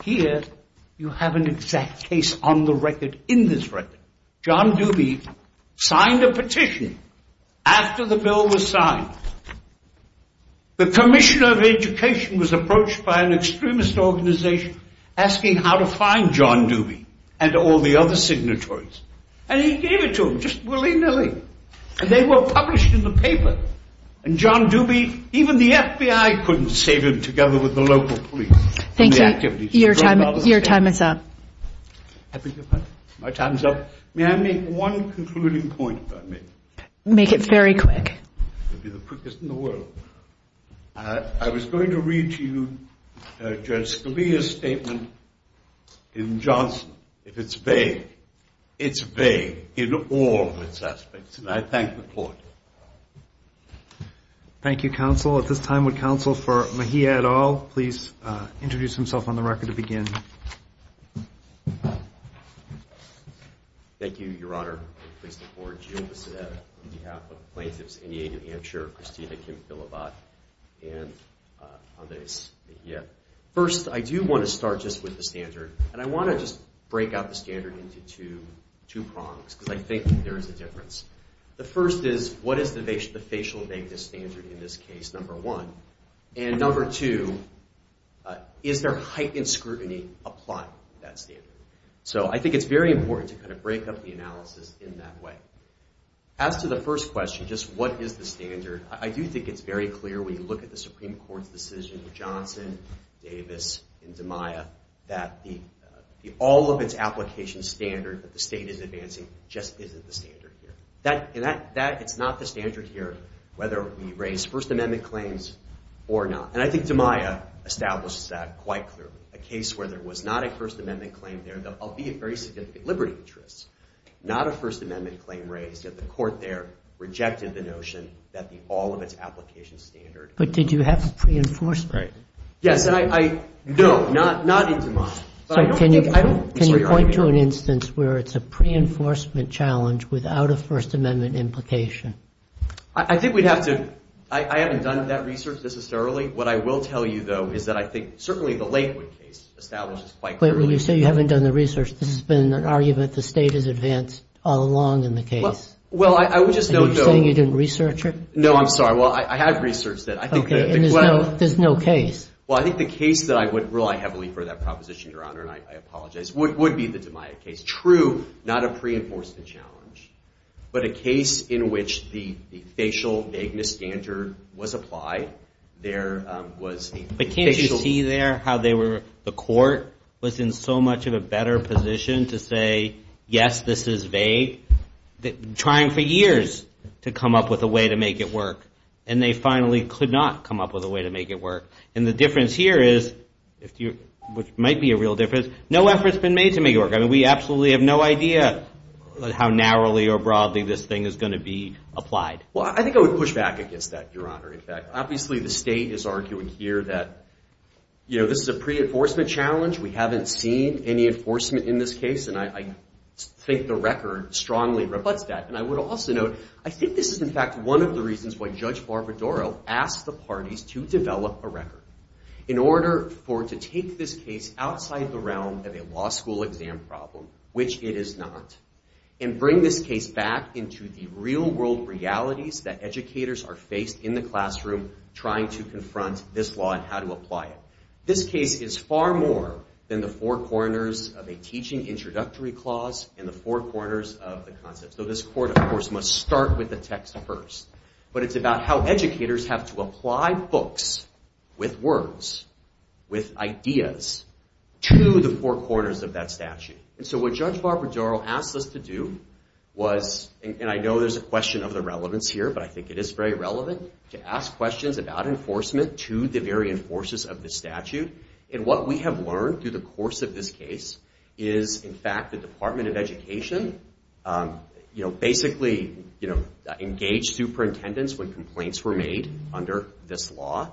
Here you have an exact case on the record, in this record. John Doobie signed a petition after the bill was signed. The Commissioner of Education was approached by an extremist organization asking how to find John Doobie and all the other signatories. And he gave it to them just willy-nilly. And they were published in the paper. And John Doobie, even the FBI couldn't save him together with the local police. May I make one concluding point? Make it very quick. I was going to read to you Judge Scalia's statement in Johnson. If it's vague, it's vague in all of its aspects. And I thank the court. Thank you, counsel. At this time, would counsel for Mejia et al. please introduce himself on the record to begin. Thank you, Your Honor. I'm pleased to forward you with the statement on behalf of the plaintiffs, Enya New Hampshire, Christina Kim-Phillibot, and Andres Mejia. First, I do want to start just with the standard. And I want to just break out the standard into two prongs, because I think there is a difference. The first is, what is the facial vagueness standard in this case, number one? And number two, is there heightened scrutiny applied to that standard? So I think it's very important to kind of break up the analysis in that way. As to the first question, just what is the standard, I do think it's very clear when you look at the Supreme Court's decision in Johnson, Davis, and DiMaia, that the all of its application standard that the state is advancing just isn't the standard here. And that, it's not the standard here, whether we raise First Amendment claims or not. And I think DiMaia establishes that quite clearly. A case where there was not a First Amendment claim there, albeit very significant liberty interests, not a First Amendment claim raised, yet the court there rejected the notion that the all of its application standard. But did you have a pre-enforcement? Yes, and I, no, not in DiMaia. Can you point to an instance where it's a pre-enforcement challenge without a First Amendment implication? I think we'd have to, I haven't done that research necessarily. What I will tell you, though, is that I think certainly the Lakewood case establishes quite clearly. But when you say you haven't done the research, this has been an argument that the state has advanced all along in the case. And you're saying you didn't research it? No, I'm sorry. Well, I have researched it. Okay, and there's no case? Well, I think the case that I would rely heavily for that proposition, Your Honor, and I apologize, would be the DiMaia case. True, not a pre-enforcement challenge. But a case in which the facial vagueness standard was applied. There was... But can't you see there how the court was in so much of a better position to say, yes, this is vague? Trying for years to come up with a way to make it work. And they finally could not come up with a way to make it work. And the difference here is, which might be a real difference, no effort's been made to make it work. I mean, we absolutely have no idea how narrowly or broadly this thing is going to be applied. Well, I think I would push back against that, Your Honor. Obviously the state is arguing here that this is a pre-enforcement challenge. We haven't seen any enforcement in this case. And I think the record strongly rebutts that. And I would also note, I think this is in fact one of the reasons why Judge Barbadaro asked the parties to develop a record. In order to take this case outside the realm of a law school exam problem, which it is not, and bring this case back into the real world realities that educators are faced in the classroom trying to confront this law and how to apply it. This case is far more than the four corners of a teaching introductory clause and the four corners of the concept. So this court, of course, must start with the text first. But it's about how educators have to apply books with words, with ideas, to the four corners of that statute. And so what Judge Barbadaro asked us to do was, and I know there's a question of the relevance here, but I think it is very relevant, to ask questions about enforcement to the very enforcers of the statute. And what we have learned through the course of this case is, in fact, the Department of Education basically engaged their superintendents when complaints were made under this law.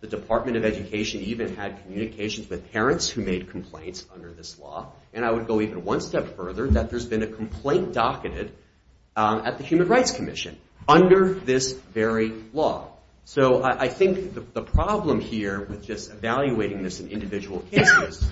The Department of Education even had communications with parents who made complaints under this law. And I would go even one step further, that there's been a complaint docketed at the Human Rights Commission under this very law. So I think the problem here with just evaluating this in individual cases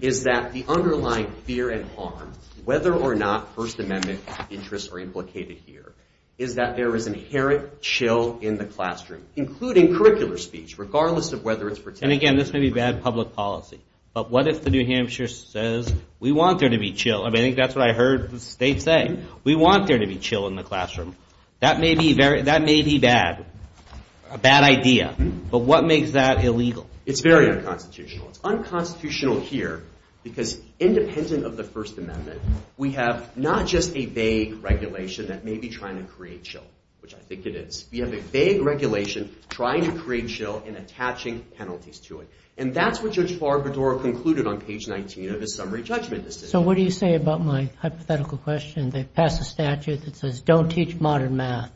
is that the underlying fear and harm, whether or not First Amendment interests are implicated here, is that there is inherent chill in the classroom, including curricular speech, regardless of whether it's pertinent. And again, this may be bad public policy. But what if the New Hampshire says, we want there to be chill. I mean, I think that's what I heard the State say. We want there to be chill in the classroom. That may be bad, a bad idea. But what makes that illegal? It's very unconstitutional. It's unconstitutional here, because independent of the First Amendment, we have not just a vague regulation that may be trying to create chill, which I think it is. We have a vague regulation trying to create chill and attaching penalties to it. And that's what Judge Barbador concluded on page 19 of his summary judgment decision. So what do you say about my hypothetical question? They pass a statute that says, don't teach modern math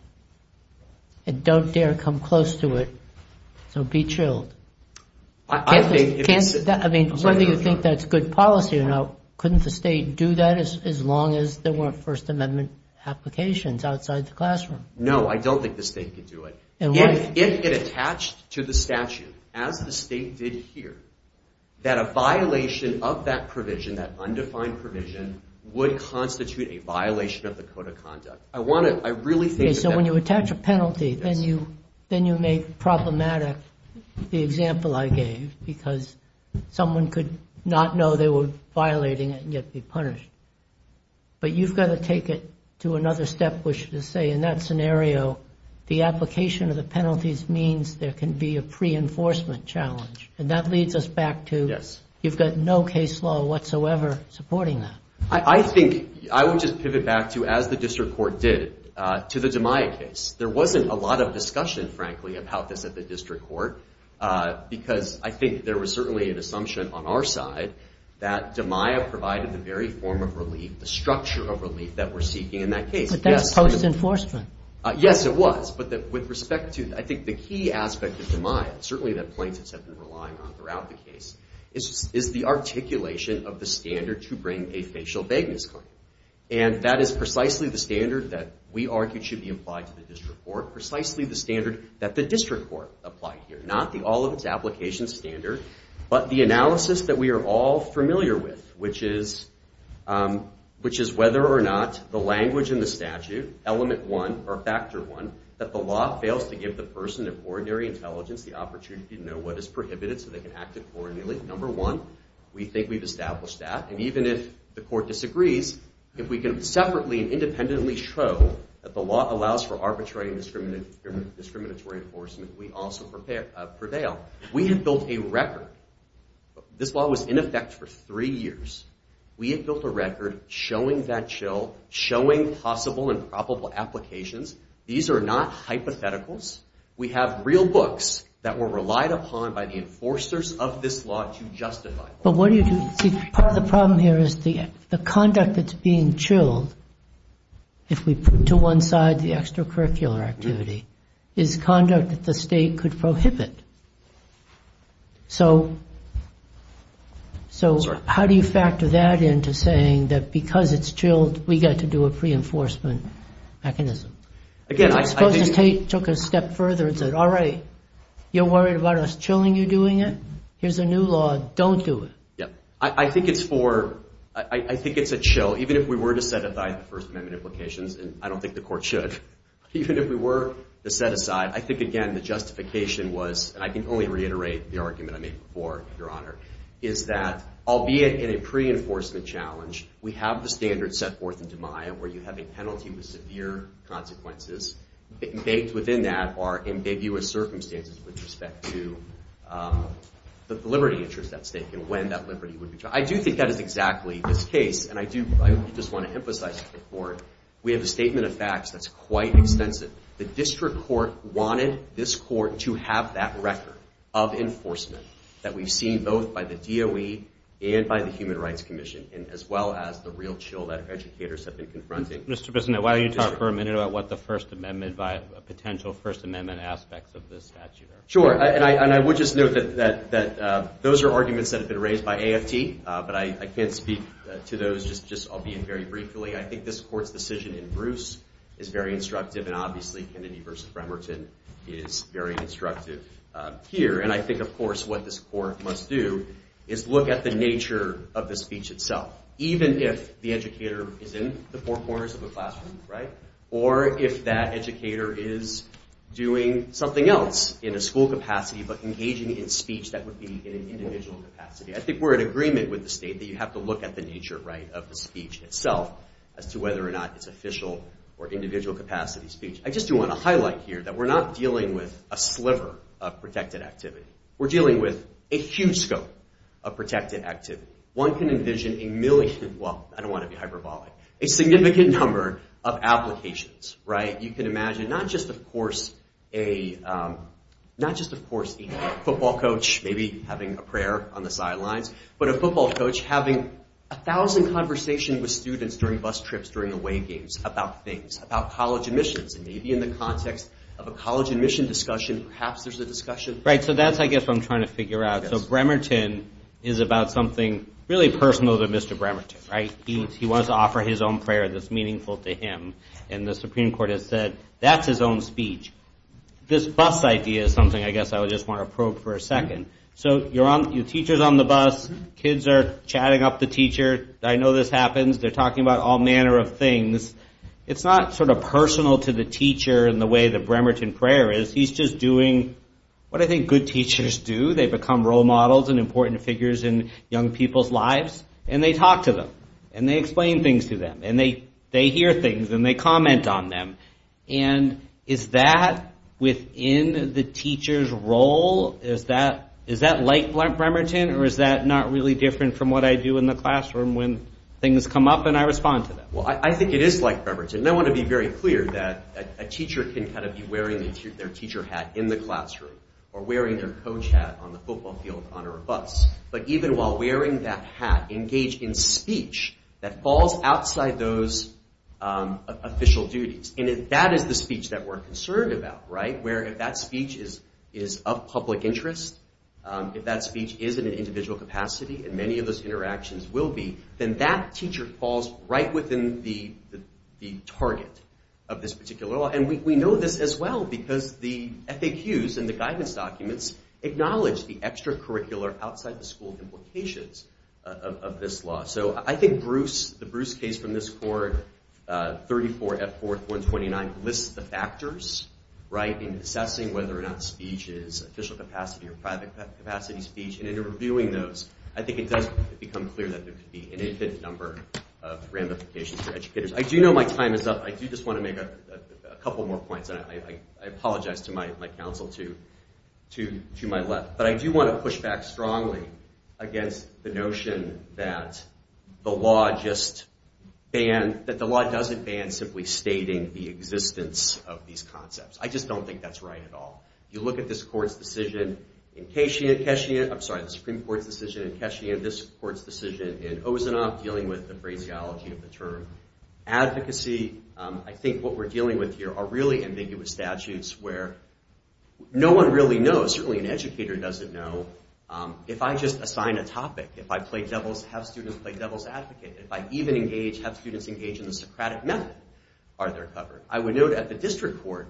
and don't dare come close to it. So be chilled. I mean, whether you think that's good policy or not, couldn't the State do that as long as there weren't First Amendment applications outside the classroom? No, I don't think the State could do it. If it attached to the statute, as the State did here, that a violation of that provision, that undefined provision, would constitute a violation of the code of conduct. So when you attach a penalty, then you make problematic the example I gave, because someone could not know they were violating it and yet be punished. But you've got to take it to another step, which is to say, in that scenario, the application of the penalties means there can be a pre-enforcement challenge. And that leads us back to, you've got no case law whatsoever supporting that. I think, I would just pivot back to, as the District Court did, to the DiMaia case. There wasn't a lot of discussion, frankly, about this at the District Court, because I think there was certainly an assumption on our side that DiMaia provided the very form of relief, the structure of relief that we're seeking in that case. But that's post-enforcement. Yes, it was. But with respect to, I think the key aspect of DiMaia, certainly that plaintiffs have been relying on throughout the case, is the articulation of the standard to bring a facial vagueness claim. And that is precisely the standard that we argued should be applied to the District Court, precisely the standard that the District Court applied here. Not the all-of-its-applications standard, but the analysis that we are all familiar with, which is whether or not the language in the statute, element one, or factor one, that the law fails to give the person of ordinary intelligence the opportunity to know what is prohibited so they can act accordingly. Number one, we think we've established that. And even if the Court disagrees, if we can separately and independently show that the law allows for arbitrary and discriminatory enforcement, we also prevail. We have built a record. This law was in effect for three years. We have built a record showing that show, showing possible and probable applications. These are not hypotheticals. We have real books that were relied upon by the enforcers of this law to justify. But what do you do? See, part of the problem here is the conduct that's being chilled, if we put to one side the extracurricular activity, is conduct that the State could prohibit. So how do you factor that into saying that because it's chilled, we've got to do a pre-enforcement mechanism? Suppose the State took a step further and said, all right, you're worried about us chilling, you're doing it, here's a new law, don't do it. I think it's for, I think it's a chill, even if we were to set aside the First Amendment implications, and I don't think the Court should, even if we were to set aside, I think, again, the justification was, and I can only reiterate the argument I made before, Your Honor, is that, albeit in a pre-enforcement challenge, we have the standard set forth in DiMaio where you have a penalty with severe consequences. Baked within that are ambiguous circumstances with respect to the liberty interest at stake and when that liberty would be charged. I do think that is exactly this case, and I do, I just want to emphasize before it, we have a statement of facts that's quite extensive. The District Court wanted this Court to have that record of enforcement that we've seen both by the DOE and by the Human Rights Commission, as well as the real chill that educators have been confronting. Mr. Bissonnette, why don't you talk for a minute about what the First Amendment, potential First Amendment aspects of this statute are? Sure, and I would just note that those are arguments that have been raised by AFT, but I can't speak to those, just albeit very briefly. I think this Court's decision in Bruce is very instructive, and obviously Kennedy versus Bremerton is very instructive here. And I think, of course, what this Court must do is look at the nature of the speech itself, even if the educator is in the four corners of a classroom, right, or if that educator is doing something else in a school capacity but engaging in speech that would be in an individual capacity. I think we're in agreement with the State that you have to look at the nature, right, of the speech itself as to whether or not it's official or individual capacity speech. I just do want to highlight here that we're not dealing with a sliver of protected activity. We're dealing with a huge scope of protected activity. One can envision a million, well, I don't want to be hyperbolic, a significant number of applications, right? You can imagine not just, of course, a football coach maybe having a prayer on the sidelines, but a football coach having a thousand conversations with students during bus trips, during away games about things, about college admissions, and maybe in the context of a college admission discussion, perhaps there's a discussion. Right, so that's, I guess, what I'm trying to figure out. So Bremerton is about something really personal to Mr. Bremerton, right? He wants to offer his own prayer that's meaningful to him, and the Supreme Court has said that's his own speech. This bus idea is something I guess I would just want to probe for a second. So you're on, your teacher's on the bus, kids are chatting up the teacher, I know this happens, they're talking about all manner of things. It's not sort of personal to the teacher in the way the Bremerton prayer is. He's just doing what I think good teachers do. They become role models and important figures in young people's lives, and they talk to them, and they explain things to them, and they hear things, and they comment on them. And is that within the teacher's role? Is that like Bremerton, or is that not really different from what I do in the classroom when things come up and I respond to them? Well, I think it is like Bremerton. And I want to be very clear that a teacher can kind of be wearing their teacher hat in the classroom, or wearing their coach hat on the football field or on a bus, but even while wearing that hat, engage in speech that falls outside those official duties. And that is the speech that we're concerned about, right? Where if that speech is of public interest, if that speech is in an individual capacity, and many of those interactions will be, then that teacher falls right within the target of this particular law. And we know this as well, because the FAQs and the guidance documents acknowledge the extracurricular, outside-the-school implications of this law. So I think the Bruce case from this court, 34F4-129, lists the factors in assessing whether or not speech is official capacity or private capacity speech, and in reviewing those, I think it does become clear that there could be an infinite number of ramifications for educators. I do know my time is up. I do just want to make a couple more points, and I apologize to my counsel to my left, but I do want to push back strongly against the notion that the law doesn't ban simply stating the existence of these concepts. I just don't think that's right at all. You look at this Supreme Court's decision in Keshien, and this court's decision in Osanoff, dealing with the phraseology of the term advocacy, I think what we're dealing with here are really ambiguous statutes where no one really knows, certainly an educator doesn't know, if I just assign a topic, if I have students play devil's advocate, if I even have students engage in the Socratic method, are they covered? I would note at the district court,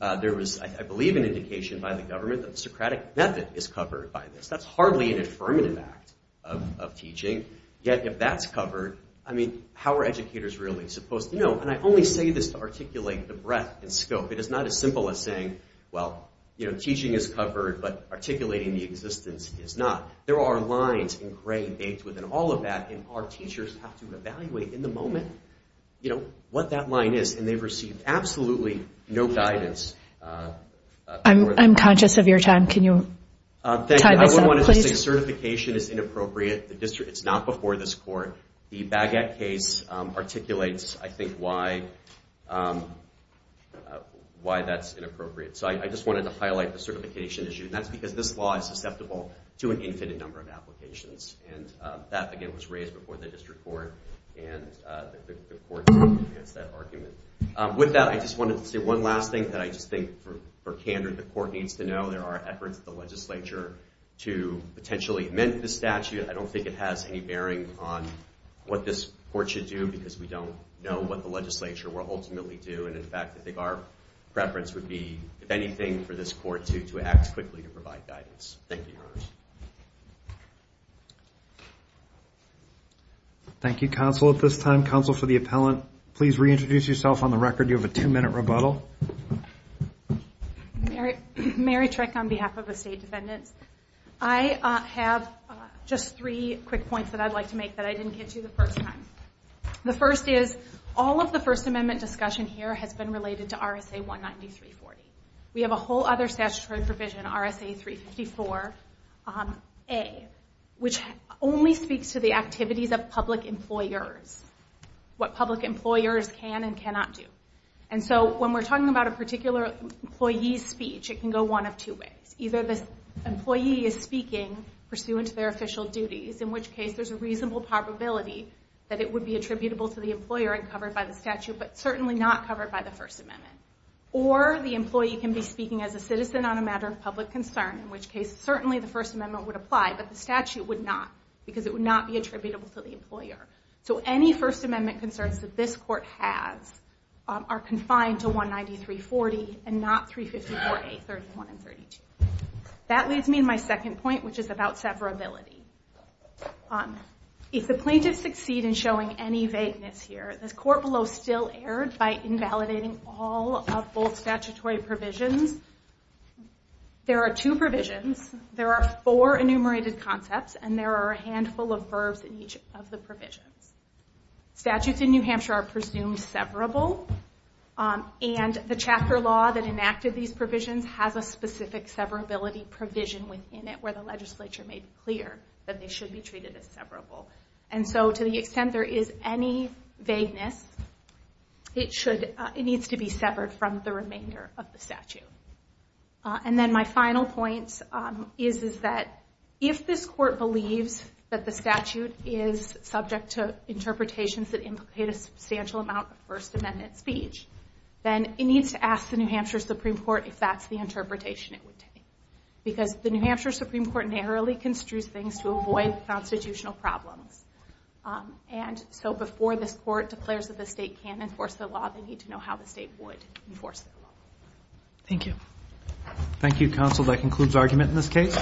there was, I believe, an indication by the government that the Socratic method is covered by this. That's hardly an affirmative act of teaching. Yet, if that's covered, I mean, how are educators really supposed to know? And I only say this to articulate the breadth and scope. It is not as simple as saying, well, teaching is covered, but articulating the existence is not. There are lines engrained, baked within all of that, and our teachers have to evaluate in the moment what that line is, and they've received absolutely no guidance. I'm conscious of your time. Can you tie this up, please? Thank you. I just wanted to say certification is inappropriate. It's not before this court. The Baguette case articulates, I think, why that's inappropriate. So I just wanted to highlight the certification issue, and that's because this law is susceptible to an infinite number of applications, and that, again, was raised before the district court, and the court didn't advance that argument. With that, I just wanted to say one last thing that I just think, for candor, the court needs to know. There are efforts at the legislature to potentially amend this statute. I don't think it has any bearing on what this court should do, because we don't know what the legislature will ultimately do. And, in fact, I think our preference would be, if anything, for this court to act quickly to provide guidance. Thank you, Your Honor. Thank you, Counsel. At this time, Counsel for the Appellant, please reintroduce yourself on the record. You have a two-minute rebuttal. Mary Trick on behalf of the State Defendants. I have just three quick points that I'd like to make that I didn't get to the first time. The first is, all of the First Amendment discussion here has been related to RSA 19340. We have a whole other statutory provision, RSA 354, which only speaks to the activities of public employers, what public employers can and cannot do. And so, when we're talking about a particular employee's speech, it can go one of two ways. Either the employee is speaking pursuant to their official duties, in which case there's a reasonable probability that it would be attributable to the employer and covered by the statute, but certainly not covered by the First Amendment. Or the employee can be speaking as a citizen on a matter of public concern, in which case certainly the First Amendment would apply, but the statute would not, because it would not be attributable to the employer. So any First Amendment concerns that this Court has are confined to RSA 19340 and not RSA 354A 31 and 32. That leads me to my second point, which is about severability. If the plaintiffs succeed in showing any vagueness here, this Court below still erred by invalidating all of both statutory provisions. There are two provisions, there are four enumerated concepts, and there are a handful of verbs in each of the provisions. Statutes in New Hampshire are presumed severable, and the chapter law that enacted these provisions has a specific severability provision within it where the legislature made clear that they should be treated as severable. And so to the extent there is any vagueness, it needs to be severed from the remainder of the statute. And then my final point is that if this Court believes that the statute is subject to interpretations that implicate a substantial amount of First Amendment speech, then it needs to ask the New Hampshire Supreme Court if that's the interpretation it would take. Because the New Hampshire Supreme Court narrowly construes things to avoid constitutional problems. And so before this Court declares that the state can't enforce the law, they need to know how the state would enforce the law. Thank you. Thank you, counsel. That concludes argument in this case.